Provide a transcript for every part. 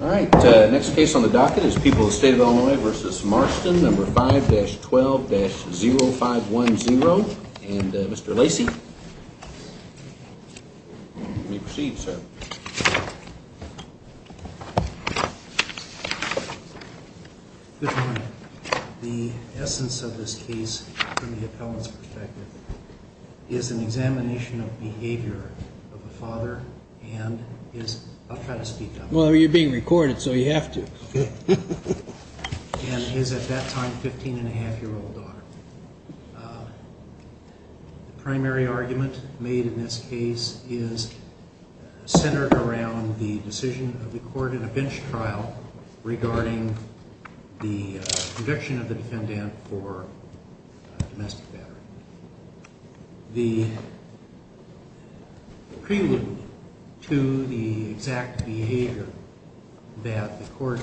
Alright, next case on the docket is People of the State of Illinois v. Marston, No. 5-12-0510, and Mr. Lacey, you may proceed, sir. Good morning. The essence of this case, from the appellant's perspective, is an examination of behavior of a father and his, I'll try to speak up. Well, you're being recorded, so you have to. And his, at that time, 15-and-a-half-year-old daughter. The primary argument made in this case is centered around the decision of the court in a bench trial regarding the conviction of the defendant for domestic battery. The prelude to the exact behavior that the court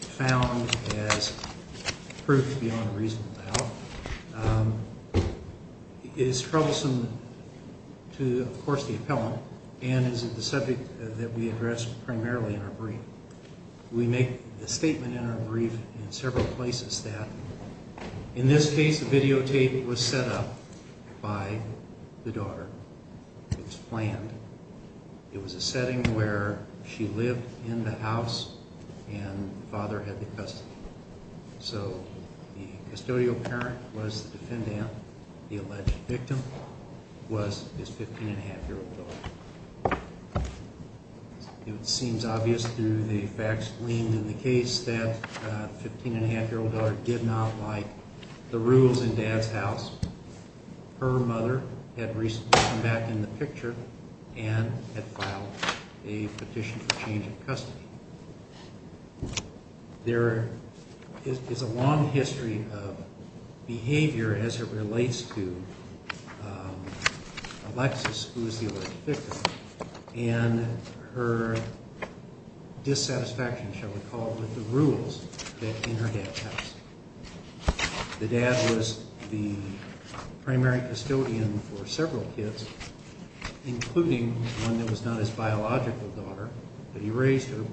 found as proof beyond a reasonable doubt is troublesome to, of course, the appellant, and is the subject that we address primarily in our brief. We make the statement in our brief in several places that, in this case, the videotape was set up by the daughter. It was planned. It was a setting where she lived in the house and the father had the custody. So the custodial parent was the defendant, the alleged victim was his 15-and-a-half-year-old daughter. It seems obvious through the facts gleaned in the case that the 15-and-a-half-year-old daughter did not like the rules in dad's house. Her mother had recently come back in the picture and had filed a petition for change of custody. There is a long history of behavior as it relates to Alexis, who is the alleged victim, and her dissatisfaction, shall we call it, with the rules in her dad's house. The dad was the primary custodian for several kids, including one that was not his biological daughter, but he raised her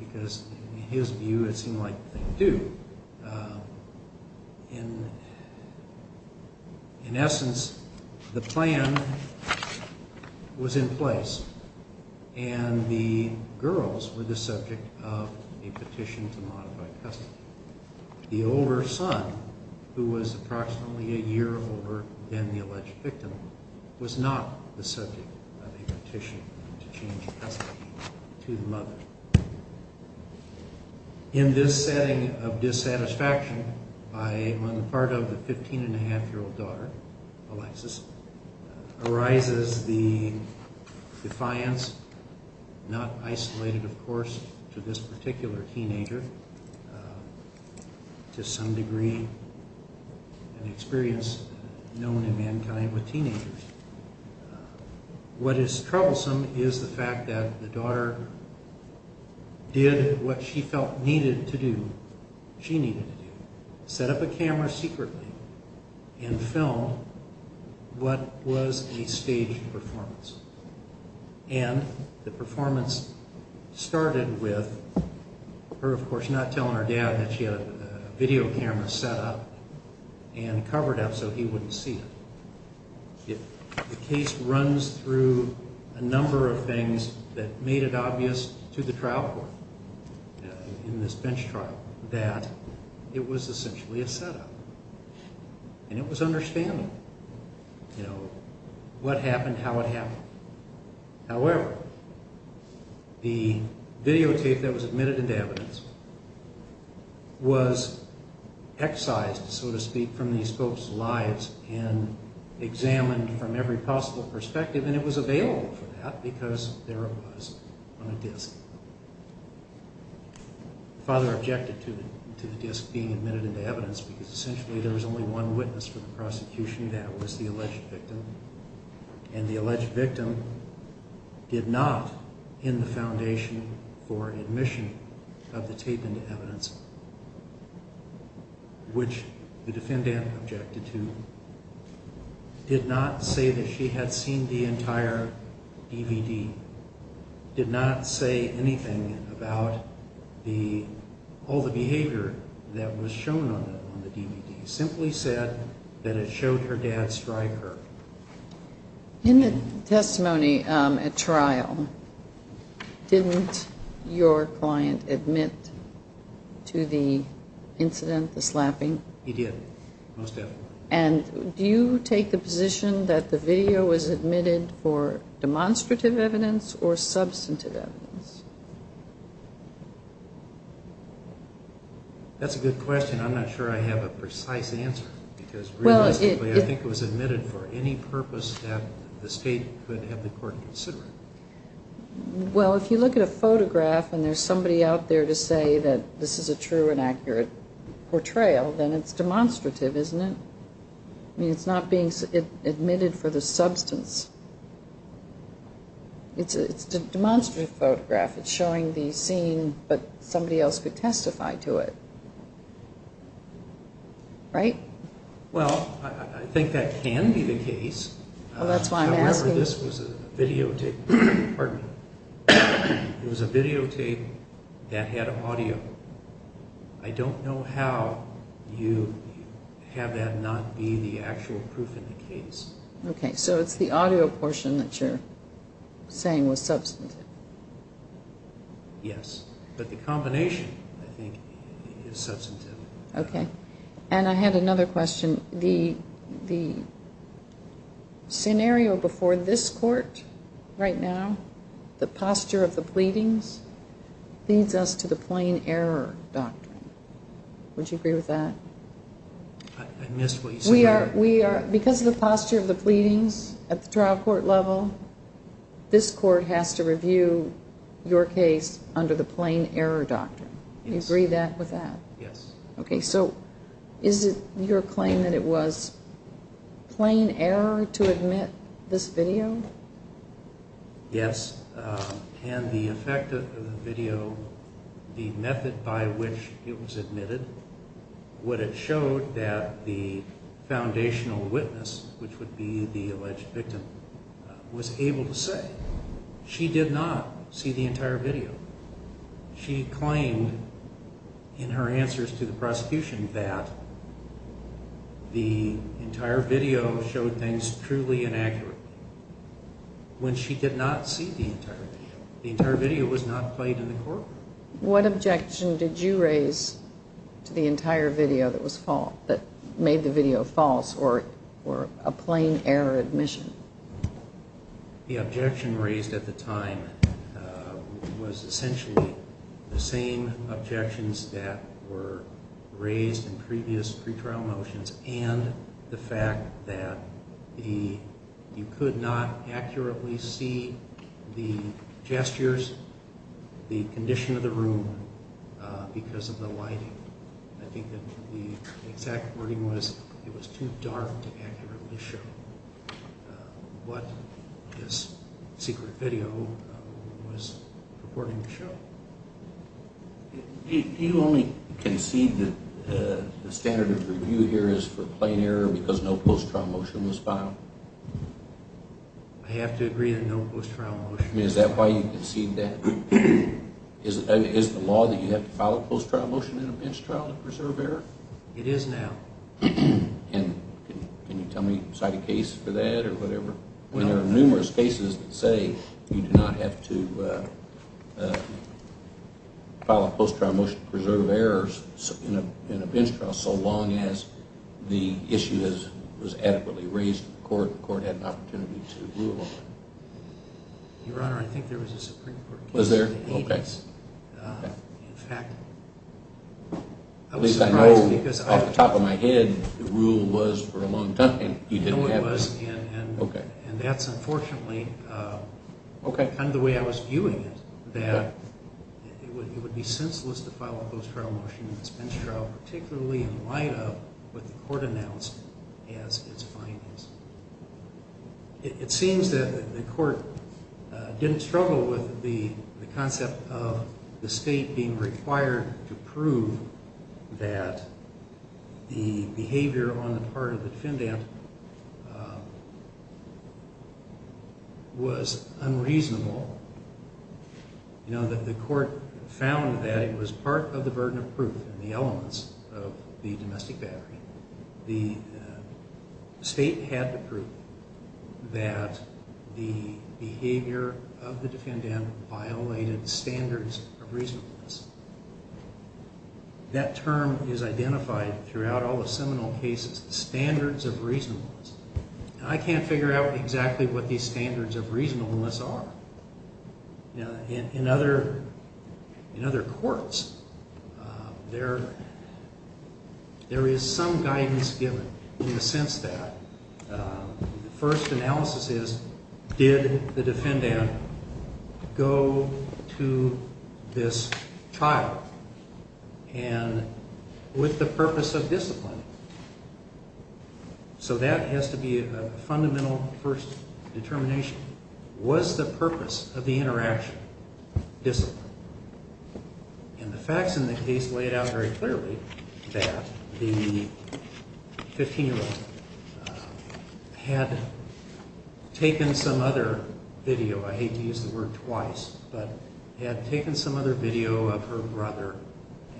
because, in his view, it seemed like they do. In essence, the plan was in place, and the girls were the subject of a petition to modify custody. The older son, who was approximately a year older than the alleged victim, was not the subject of a petition to change custody to the mother. In this setting of dissatisfaction on the part of the 15-and-a-half-year-old daughter, Alexis, arises the defiance, not isolated, of course, to this particular teenager, to some degree an experience known in mankind with teenagers. What is troublesome is the fact that the daughter did what she felt needed to do, she needed to do, set up a camera secretly, and filmed what was a staged performance. And the performance started with her, of course, not telling her dad that she had a video camera set up and covered up so he wouldn't see it. The case runs through a number of things that made it obvious to the trial court in this bench trial that it was essentially a setup, and it was understandable. You know, what happened, how it happened. However, the videotape that was admitted into evidence was excised, so to speak, from these folks' lives and examined from every possible perspective, and it was available for that because there it was on a disc. The father objected to the disc being admitted into evidence because essentially there was only one witness for the prosecution, and that was the alleged victim. And the alleged victim did not, in the foundation for admission of the tape into evidence, which the defendant objected to, did not say that she had seen the entire DVD, did not say anything about all the behavior that was shown on the DVD, simply said that it showed her dad strike her. In the testimony at trial, didn't your client admit to the incident, the slapping? He did, most definitely. And do you take the position that the video was admitted for demonstrative evidence or substantive evidence? That's a good question. I'm not sure I have a precise answer because realistically I think it was admitted for any purpose that the state could have the court consider. Well, if you look at a photograph and there's somebody out there to say that this is a true and accurate portrayal, then it's demonstrative, isn't it? I mean, it's not being admitted for the substance. It's a demonstrative photograph. It's showing the scene, but somebody else could testify to it, right? Well, I think that can be the case. Well, that's why I'm asking. However, this was a videotape. Pardon me. It was a videotape that had audio. I don't know how you have that not be the actual proof in the case. Okay, so it's the audio portion that you're saying was substantive. Yes, but the combination, I think, is substantive. Okay. And I had another question. The scenario before this court right now, the posture of the pleadings, leads us to the plain error doctrine. Would you agree with that? I missed what you said. Because of the posture of the pleadings at the trial court level, this court has to review your case under the plain error doctrine. Do you agree with that? Yes. Okay, so is it your claim that it was plain error to admit this video? Yes. And the effect of the video, the method by which it was admitted, would have showed that the foundational witness, which would be the alleged victim, was able to say. She did not see the entire video. She claimed in her answers to the prosecution that the entire video showed things truly inaccurate. When she did not see the entire video, the entire video was not played in the court. What objection did you raise to the entire video that made the video false or a plain error admission? The objection raised at the time was essentially the same objections that were raised in previous pretrial motions and the fact that you could not accurately see the gestures, the condition of the room, because of the lighting. I think that the exact wording was it was too dark to accurately show what this secret video was purporting to show. Do you only concede that the standard of review here is for plain error because no post-trial motion was filed? I have to agree that no post-trial motion was filed. Is that why you concede that? Is the law that you have to file a post-trial motion in a bench trial to preserve error? It is now. Can you tell me, cite a case for that or whatever? There are numerous cases that say you do not have to file a post-trial motion to preserve errors in a bench trial so long as the issue was adequately raised in court and the court had an opportunity to rule on it. Your Honor, I think there was a Supreme Court case. Was there? In fact, I was surprised because… At least I know off the top of my head the rule was for a long time. No, it was. And that's unfortunately kind of the way I was viewing it, that it would be senseless to file a post-trial motion in a bench trial, particularly in light of what the court announced as its findings. It seems that the court didn't struggle with the concept of the state being required to prove that the behavior on the part of the defendant was unreasonable. You know, the court found that it was part of the burden of proof in the elements of the domestic battery. The state had to prove that the behavior of the defendant violated standards of reasonableness. That term is identified throughout all the seminal cases, standards of reasonableness. And I can't figure out exactly what these standards of reasonableness are. In other courts, there is some guidance given in the sense that the first analysis is, did the defendant go to this trial with the purpose of disciplining? So that has to be a fundamental first determination. Was the purpose of the interaction disciplined? And the facts in the case laid out very clearly that the 15-year-old had taken some other video, I hate to use the word twice, but had taken some other video of her brother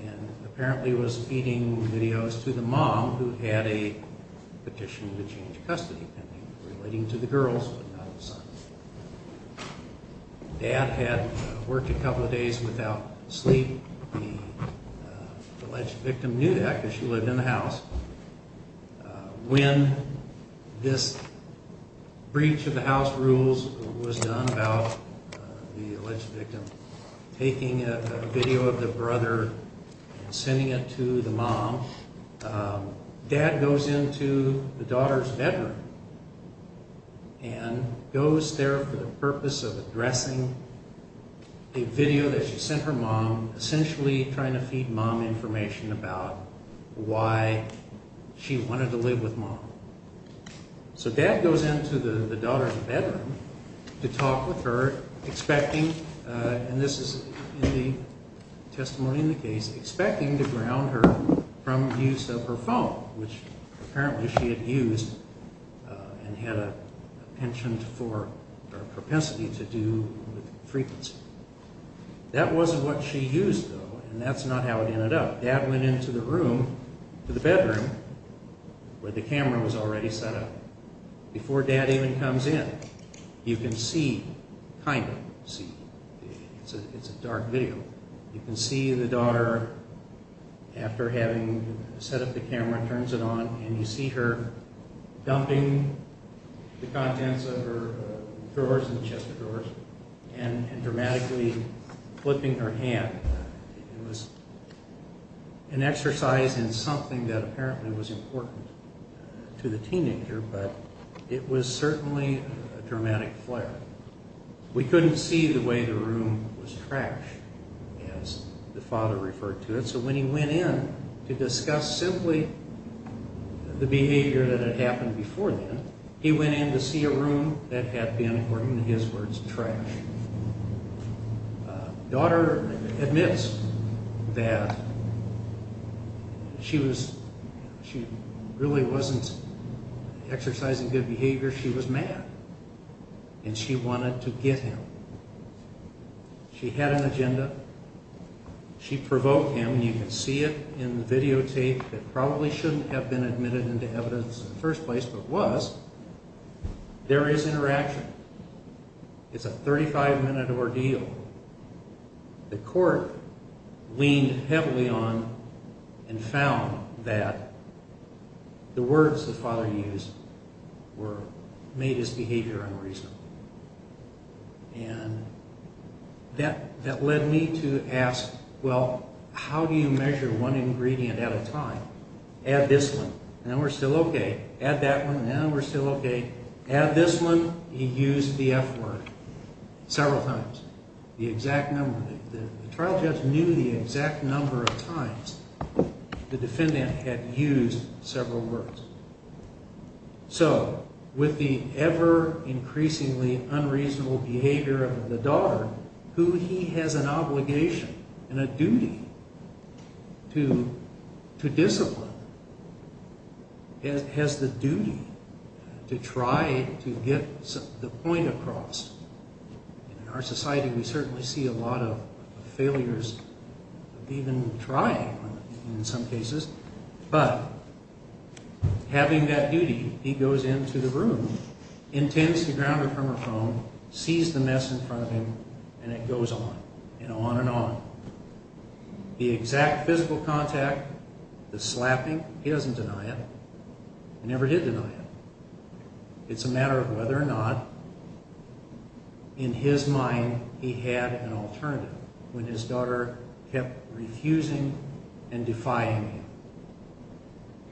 and apparently was feeding videos to the mom who had a petition to change custody, relating to the girls but not the sons. Dad had worked a couple of days without sleep. The alleged victim knew that because she lived in the house. When this breach of the house rules was done about the alleged victim, taking a video of the brother and sending it to the mom, dad goes into the daughter's bedroom and goes there for the purpose of addressing a video that she sent her mom, essentially trying to feed mom information about why she wanted to live with mom. So dad goes into the daughter's bedroom to talk with her, expecting, and this is in the testimony in the case, expecting to ground her from the use of her phone, which apparently she had used and had a penchant for propensity to do with frequency. That wasn't what she used, though, and that's not how it ended up. Dad went into the room, to the bedroom, where the camera was already set up. Before dad even comes in, you can see, kind of see, it's a dark video, you can see the daughter, after having set up the camera, turns it on, and you see her dumping the contents of her drawers, the chest of drawers, and dramatically flipping her hand. It was an exercise in something that apparently was important to the teenager, but it was certainly a dramatic flare. We couldn't see the way the room was trashed, as the father referred to it, so when he went in to discuss simply the behavior that had happened before then, he went in to see a room that had been, according to his words, trashed. Daughter admits that she really wasn't exercising good behavior, she was mad, and she wanted to get him. She had an agenda, she provoked him, and you can see it in the videotape, that probably shouldn't have been admitted into evidence in the first place, but was. There is interaction. It's a 35-minute ordeal. The court leaned heavily on and found that the words the father used made his behavior unreasonable. And that led me to ask, well, how do you measure one ingredient at a time? Add this one. Now we're still okay. Add that one. Now we're still okay. Add this one. He used the F word several times, the exact number. The trial judge knew the exact number of times the defendant had used several words. So with the ever-increasingly unreasonable behavior of the daughter, who he has an obligation and a duty to discipline, has the duty to try to get the point across. In our society, we certainly see a lot of failures of even trying in some cases, but having that duty, he goes into the room, intends to ground her from her phone, sees the mess in front of him, and it goes on and on and on. The exact physical contact, the slapping, he doesn't deny it. He never did deny it. It's a matter of whether or not in his mind he had an alternative when his daughter kept refusing and defying him.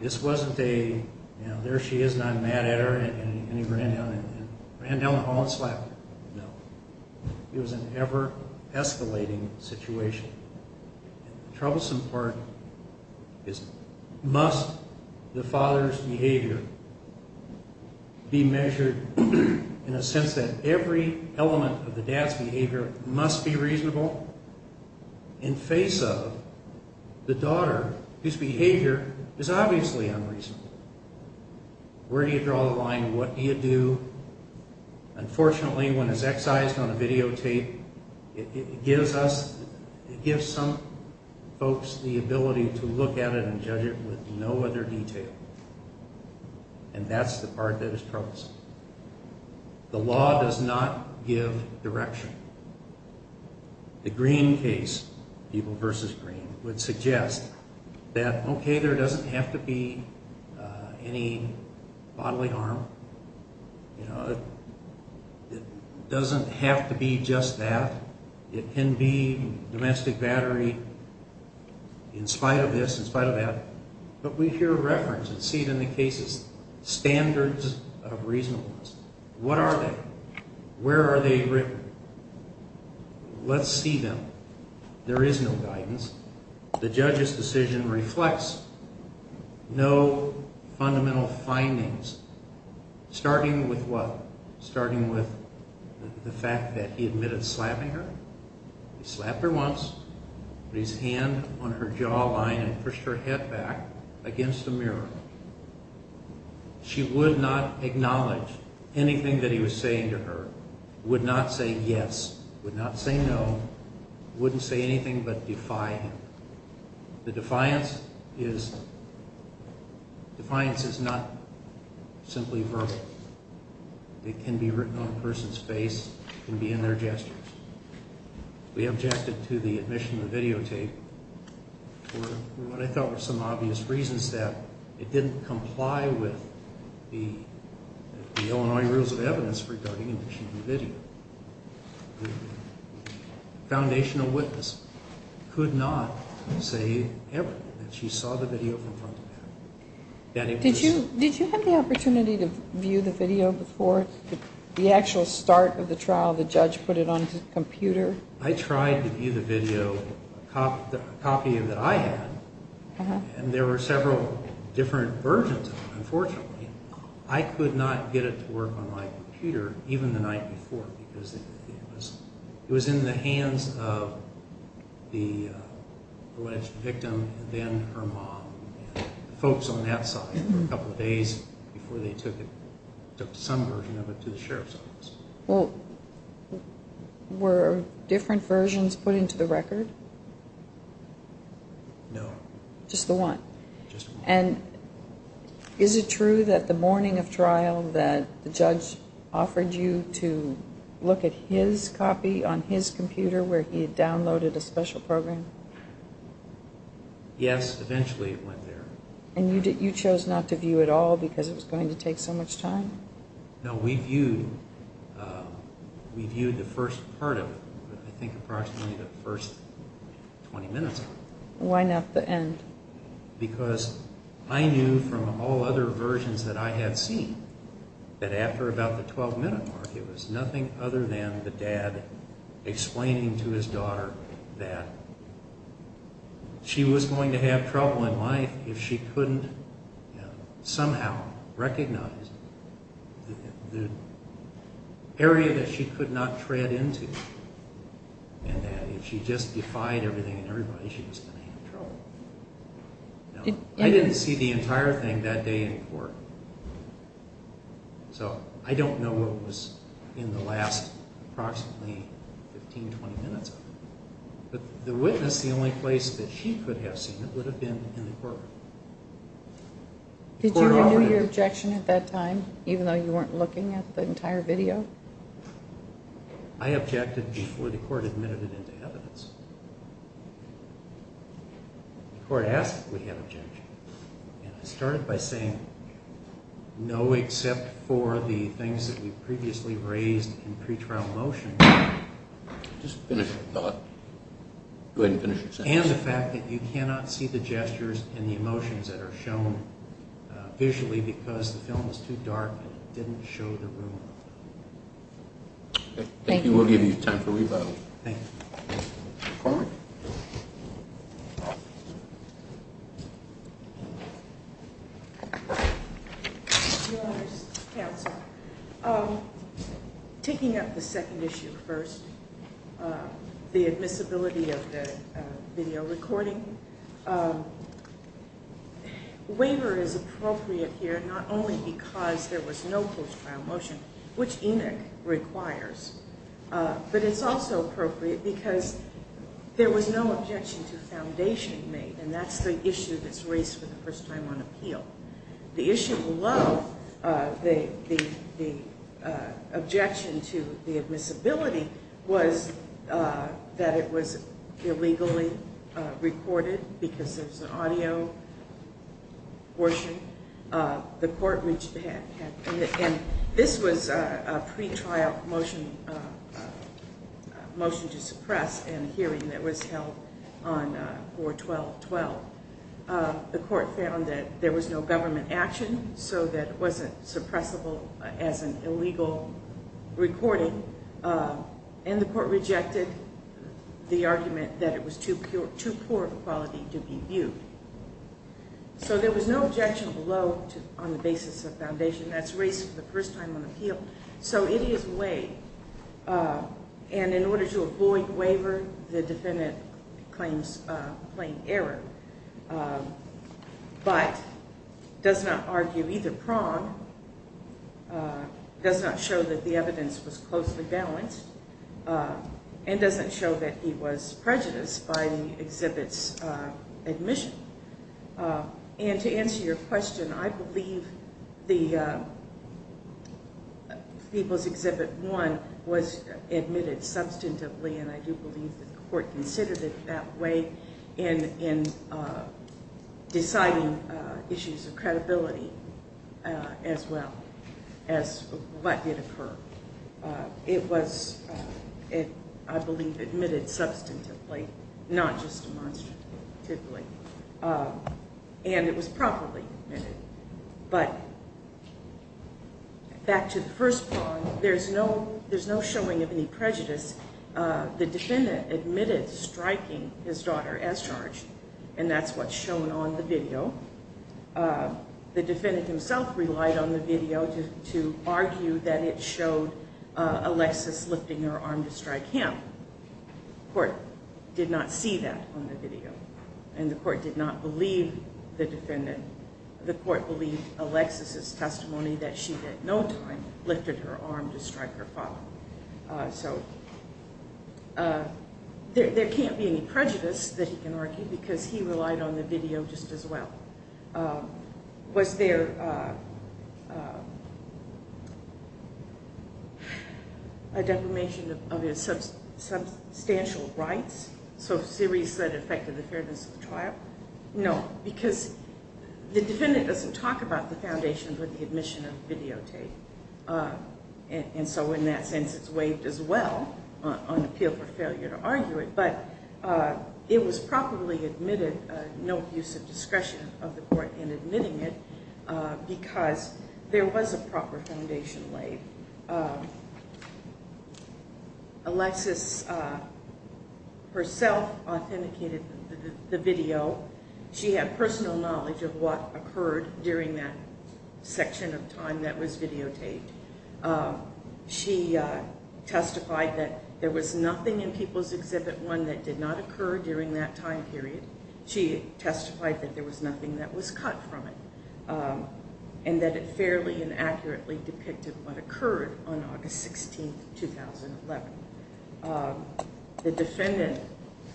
This wasn't a, you know, there she is and I'm mad at her, and he ran down the hall and slapped her. No. It was an ever-escalating situation. The troublesome part is must the father's behavior be measured in a sense that every element of the dad's behavior must be reasonable in face of the daughter whose behavior is obviously unreasonable. Where do you draw the line? What do you do? Unfortunately, when it's excised on a videotape, it gives us, it gives some folks the ability to look at it and judge it with no other detail, and that's the part that is troublesome. The law does not give direction. It doesn't say there doesn't have to be any bodily harm. You know, it doesn't have to be just that. It can be domestic battery in spite of this, in spite of that, but we hear reference and see it in the cases, standards of reasonableness. What are they? Where are they written? Let's see them. There is no guidance. The judge's decision reflects no fundamental findings, starting with what? Starting with the fact that he admitted slapping her. He slapped her once, put his hand on her jawline and pushed her head back against the mirror. She would not acknowledge anything that he was saying to her, would not say yes, would not say no, wouldn't say anything but defy him. The defiance is not simply verbal. It can be written on a person's face. It can be in their gestures. We objected to the admission of the videotape for what I thought were some obvious reasons that it didn't comply with the Illinois Rules of Evidence regarding admission of the video. The foundational witness could not say ever that she saw the video from front to back. Did you have the opportunity to view the video before the actual start of the trial? The judge put it on his computer? I tried to view the video, a copy that I had, and there were several different versions of it, unfortunately. I could not get it to work on my computer, even the night before, because it was in the hands of the alleged victim and then her mom. The folks on that side, for a couple of days before they took it, Well, were different versions put into the record? No. Just the one? Just the one. And is it true that the morning of trial, that the judge offered you to look at his copy on his computer where he had downloaded a special program? Yes, eventually it went there. And you chose not to view it all because it was going to take so much time? No, we viewed the first part of it, I think approximately the first 20 minutes of it. Why not the end? Because I knew from all other versions that I had seen that after about the 12-minute mark, it was nothing other than the dad explaining to his daughter that she was going to have trouble in life if she couldn't somehow recognize the area that she could not tread into and that if she just defied everything and everybody, she was going to have trouble. I didn't see the entire thing that day in court. So I don't know what was in the last approximately 15, 20 minutes of it. But the witness, the only place that she could have seen it would have been in the courtroom. Did you renew your objection at that time, even though you weren't looking at the entire video? I objected before the court admitted it into evidence. The court asked if we had an objection. And I started by saying no, except for the things that we previously raised in pretrial motion. Just finish your thought. Go ahead and finish your sentence. And the fact that you cannot see the gestures and the emotions that are shown visually because the film is too dark and it didn't show the room. Thank you. We'll give you time for rebuttal. Thank you. Your Honor's counsel, taking up the second issue first, the admissibility of the video recording. Waiver is appropriate here not only because there was no post-trial motion, which ENOC requires, but it's also appropriate because there was no objection to foundation made, and that's the issue that's raised for the first time on appeal. The issue below, the objection to the admissibility, was that it was illegally recorded because there was an audio portion. The court reached ahead. And this was a pretrial motion to suppress in a hearing that was held on 4-12-12. The court found that there was no government action so that it wasn't suppressible as an illegal recording. And the court rejected the argument that it was too poor of a quality to be viewed. So there was no objection below on the basis of foundation. That's raised for the first time on appeal. So it is waived. And in order to avoid waiver, the defendant claims plain error, but does not argue either prong, does not show that the evidence was closely balanced, and doesn't show that he was prejudiced by the exhibit's admission. And to answer your question, I believe People's Exhibit 1 was admitted substantively, and I do believe that the court considered it that way in deciding issues of credibility as well as what did occur. It was, I believe, admitted substantively, not just demonstratively. And it was properly admitted. But back to the first prong, there's no showing of any prejudice. The defendant admitted striking his daughter as charged, and that's what's shown on the video. The defendant himself relied on the video to argue that it showed Alexis lifting her arm to strike him. The court did not see that on the video, and the court did not believe the defendant. The court believed Alexis' testimony that she at no time lifted her arm to strike her father. So there can't be any prejudice that he can argue because he relied on the video just as well. Was there a defamation of his substantial rights? So a series that affected the fairness of the trial? No, because the defendant doesn't talk about the foundation with the admission of videotape, and so in that sense it's waived as well on appeal for failure to argue it. But it was properly admitted, no abuse of discretion of the court in admitting it because there was a proper foundation waived. Alexis herself authenticated the video. She had personal knowledge of what occurred during that section of time that was videotaped. She testified that there was nothing in People's Exhibit 1 that did not occur during that time period. She testified that there was nothing that was cut from it and that it fairly and accurately depicted what occurred on August 16, 2011. The defendant,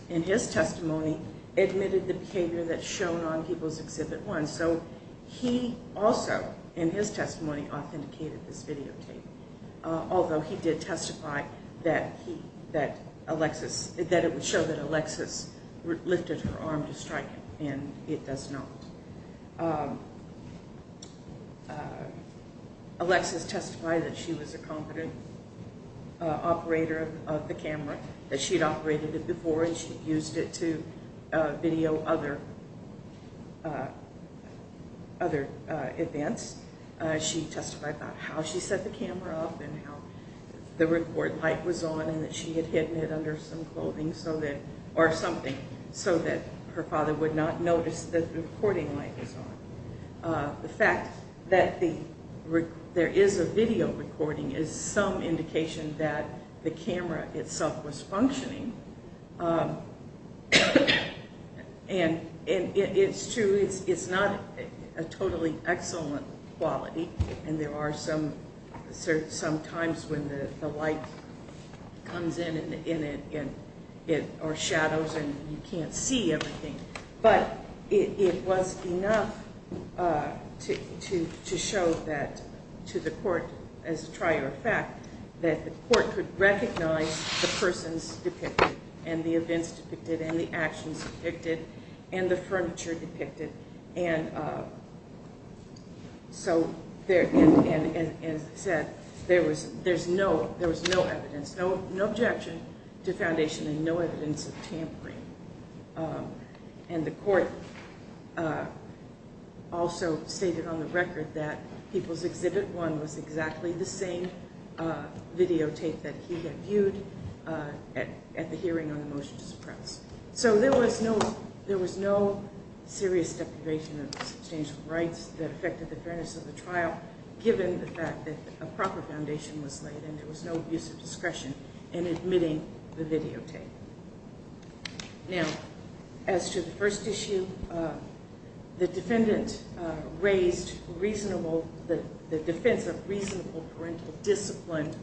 in his testimony, admitted the behavior that's shown on People's Exhibit 1. So he also, in his testimony, authenticated this videotape, although he did testify that it would show that Alexis lifted her arm to strike him, and it does not. Alexis testified that she was a competent operator of the camera, that she'd operated it before and she'd used it to video other events. She testified about how she set the camera up and how the record light was on and that she had hidden it under some clothing or something so that her father would not notice the recording light was on. The fact that there is a video recording is some indication that the camera itself was functioning and it's true, it's not a totally excellent quality, and there are some times when the light comes in or shadows and you can't see everything, but it was enough to show to the court, as a trier of fact, that the court could recognize the persons depicted and the events depicted and the actions depicted and the furniture depicted. And so, as I said, there was no evidence, no objection to foundation and no evidence of tampering. And the court also stated on the record that People's Exhibit 1 was exactly the same videotape that he had viewed at the hearing on the motion to suppress. So there was no serious deprivation of substantial rights that affected the fairness of the trial, given the fact that a proper foundation was laid and there was no use of discretion in admitting the videotape. Now, as to the first issue, the defendant raised the defense of reasonable parental discipline,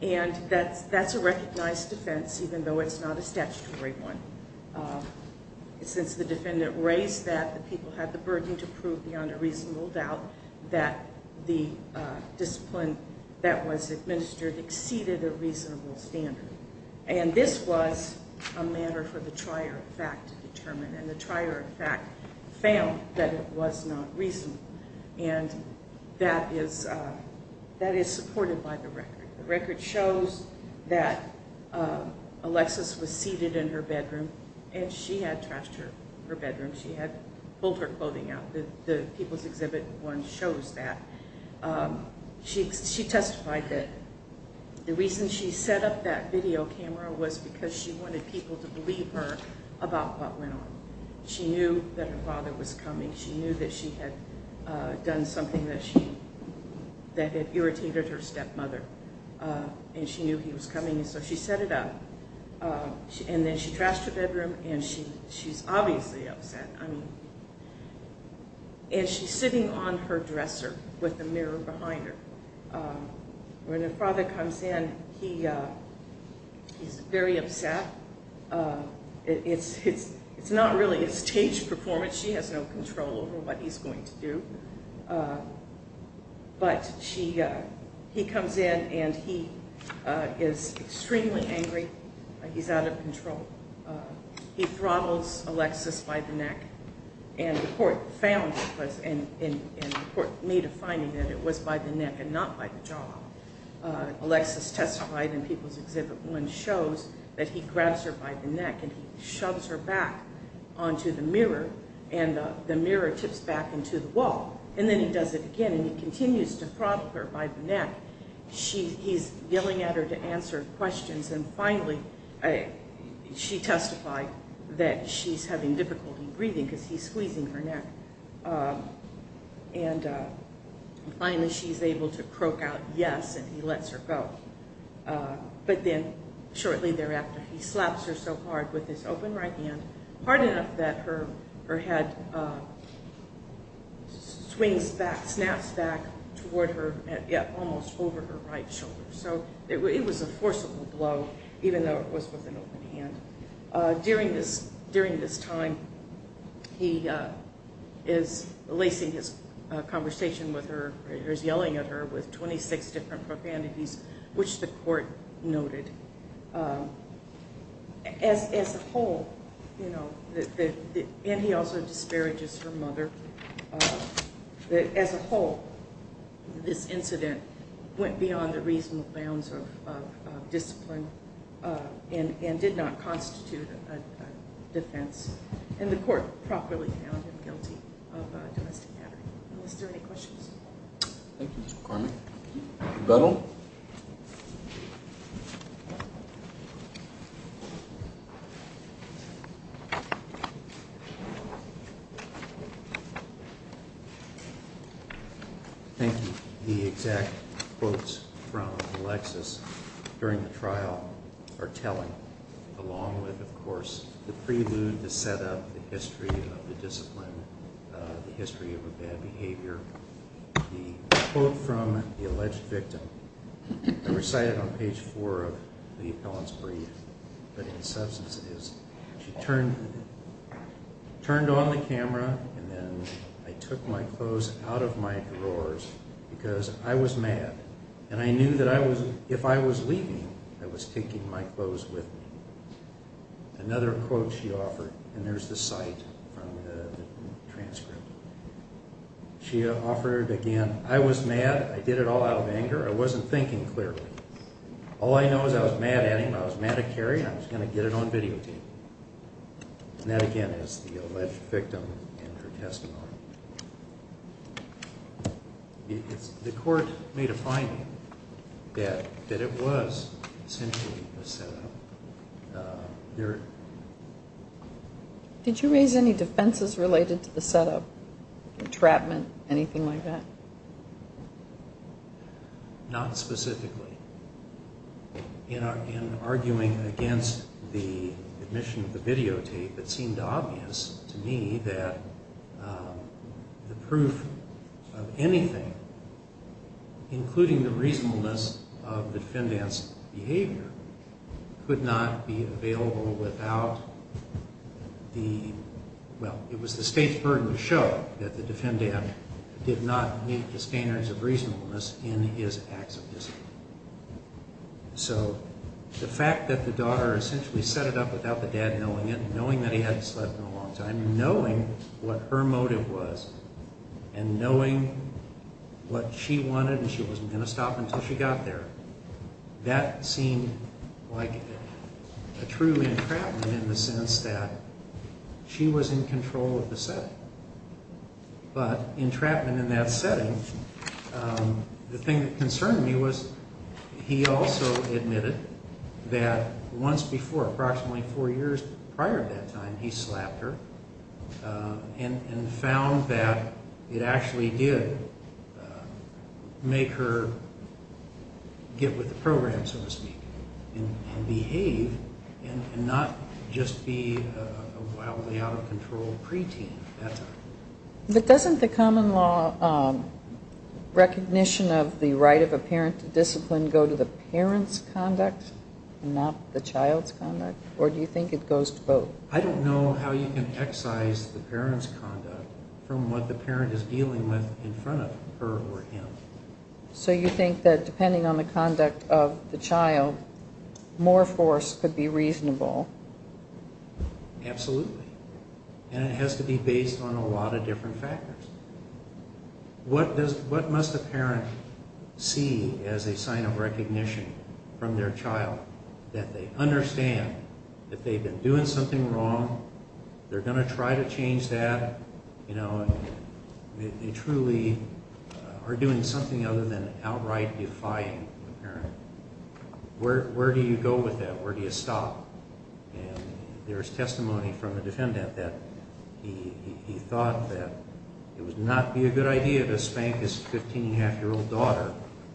and that's a recognized defense, even though it's not a statutory one. Since the defendant raised that, the people had the burden to prove beyond a reasonable doubt that the discipline that was administered exceeded a reasonable standard. And this was a matter for the trier of fact to determine, and the trier of fact found that it was not reasonable. And that is supported by the record. The record shows that Alexis was seated in her bedroom, and she had trashed her bedroom. She had pulled her clothing out. The People's Exhibit 1 shows that. She testified that the reason she set up that video camera was because she wanted people to believe her about what went on. She knew that her father was coming. She knew that she had done something that had irritated her stepmother, and she knew he was coming, and so she set it up. And then she trashed her bedroom, and she's obviously upset. And she's sitting on her dresser with a mirror behind her. When her father comes in, he's very upset. It's not really a stage performance. She has no control over what he's going to do. But he comes in, and he is extremely angry. He's out of control. He throttles Alexis by the neck, and the court made a finding that it was by the neck and not by the jaw. Alexis testified in People's Exhibit 1 shows that he grabs her by the neck, and he shoves her back onto the mirror, and the mirror tips back into the wall. And then he does it again, and he continues to throttle her by the neck. He's yelling at her to answer questions, and finally she testified that she's having difficulty breathing because he's squeezing her neck. And finally she's able to croak out yes, and he lets her go. But then shortly thereafter, he slaps her so hard with his open right hand, hard enough that her head swings back, snaps back toward her, yet almost over her right shoulder. So it was a forcible blow, even though it was with an open hand. During this time, he is lacing his conversation with her, or he's yelling at her with 26 different profanities, which the court noted. As a whole, and he also disparages her mother, as a whole this incident went beyond the reasonable bounds of discipline and did not constitute a defense. And the court properly found him guilty of domestic battery. Are there any questions? Thank you, Ms. McCormick. Rebuttal. Thank you. The exact quotes from Alexis during the trial are telling, along with, of course, the prelude to set up the history of the discipline, the history of a bad behavior. The quote from the alleged victim, I recited on page four of The Appellant's Brief, but in substance it is, she turned on the camera and then I took my clothes out of my drawers because I was mad and I knew that if I was leaving, I was taking my clothes with me. She offered again, I was mad, I did it all out of anger, I wasn't thinking clearly. All I know is I was mad at him, I was mad at Carrie, and I was going to get it on video tape. And that again is the alleged victim in her testimony. The court made a finding that it was essentially a set up. There... Did you raise any defenses related to the set up, entrapment, anything like that? Not specifically. In arguing against the admission of the video tape, it seemed obvious to me that the proof of anything, including the reasonableness of the defendant's behavior, could not be available without the... Well, it was the state's burden to show that the defendant did not meet the standards of reasonableness in his acts of discipline. So the fact that the daughter essentially set it up without the dad knowing it, knowing that he hadn't slept in a long time, knowing what her motive was, and knowing what she wanted and she wasn't going to stop until she got there, that seemed like a true entrapment in the sense that she was in control of the setting. But entrapment in that setting, the thing that concerned me was he also admitted that once before, approximately four years prior to that time, he slapped her, and found that it actually did make her get with the program, so to speak, and behave and not just be a wildly out of control preteen at that time. But doesn't the common law recognition of the right of a parent to discipline go to the parent's conduct and not the child's conduct? Or do you think it goes to both? I don't know how you can excise the parent's conduct from what the parent is dealing with in front of her or him. So you think that depending on the conduct of the child, more force could be reasonable? Absolutely. And it has to be based on a lot of different factors. What must a parent see as a sign of recognition from their child that they understand that they've been doing something wrong, they're going to try to change that, they truly are doing something other than outright defying the parent. Where do you go with that? Where do you stop? And there's testimony from a defendant that he thought that it would not be a good idea to spank his 15-and-a-half-year-old daughter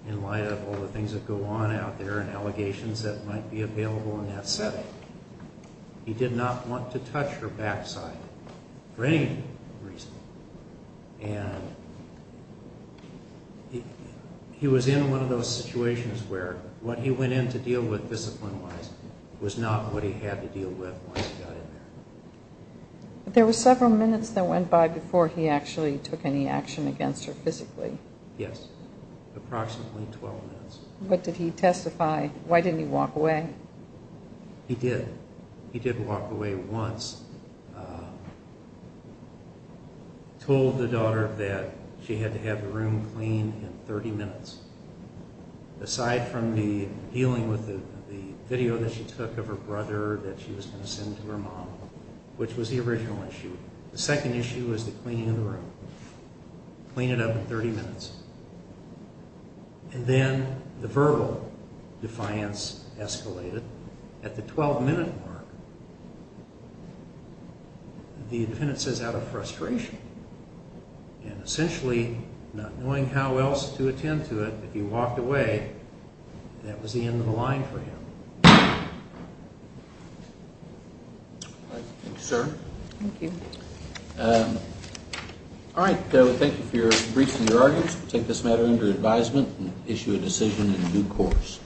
in light of all the things that go on out there and allegations that might be available in that setting. He did not want to touch her backside for any reason. And he was in one of those situations where what he went in to deal with discipline-wise was not what he had to deal with once he got in there. There were several minutes that went by before he actually took any action against her physically. Yes. Approximately 12 minutes. What did he testify? Why didn't he walk away? He did. He did walk away once. He told the daughter that she had to have the room cleaned in 30 minutes. Aside from dealing with the video that she took of her brother that she was going to send to her mom, which was the original issue. The second issue was the cleaning of the room. Clean it up in 30 minutes. And then the verbal defiance escalated. At the 12-minute mark, the defendant says out of frustration. And essentially, not knowing how else to attend to it, if he walked away, that was the end of the line for him. Thank you, sir. Thank you. All right. Thank you for your briefs and your arguments. We'll take this matter under advisement and issue a decision in due course.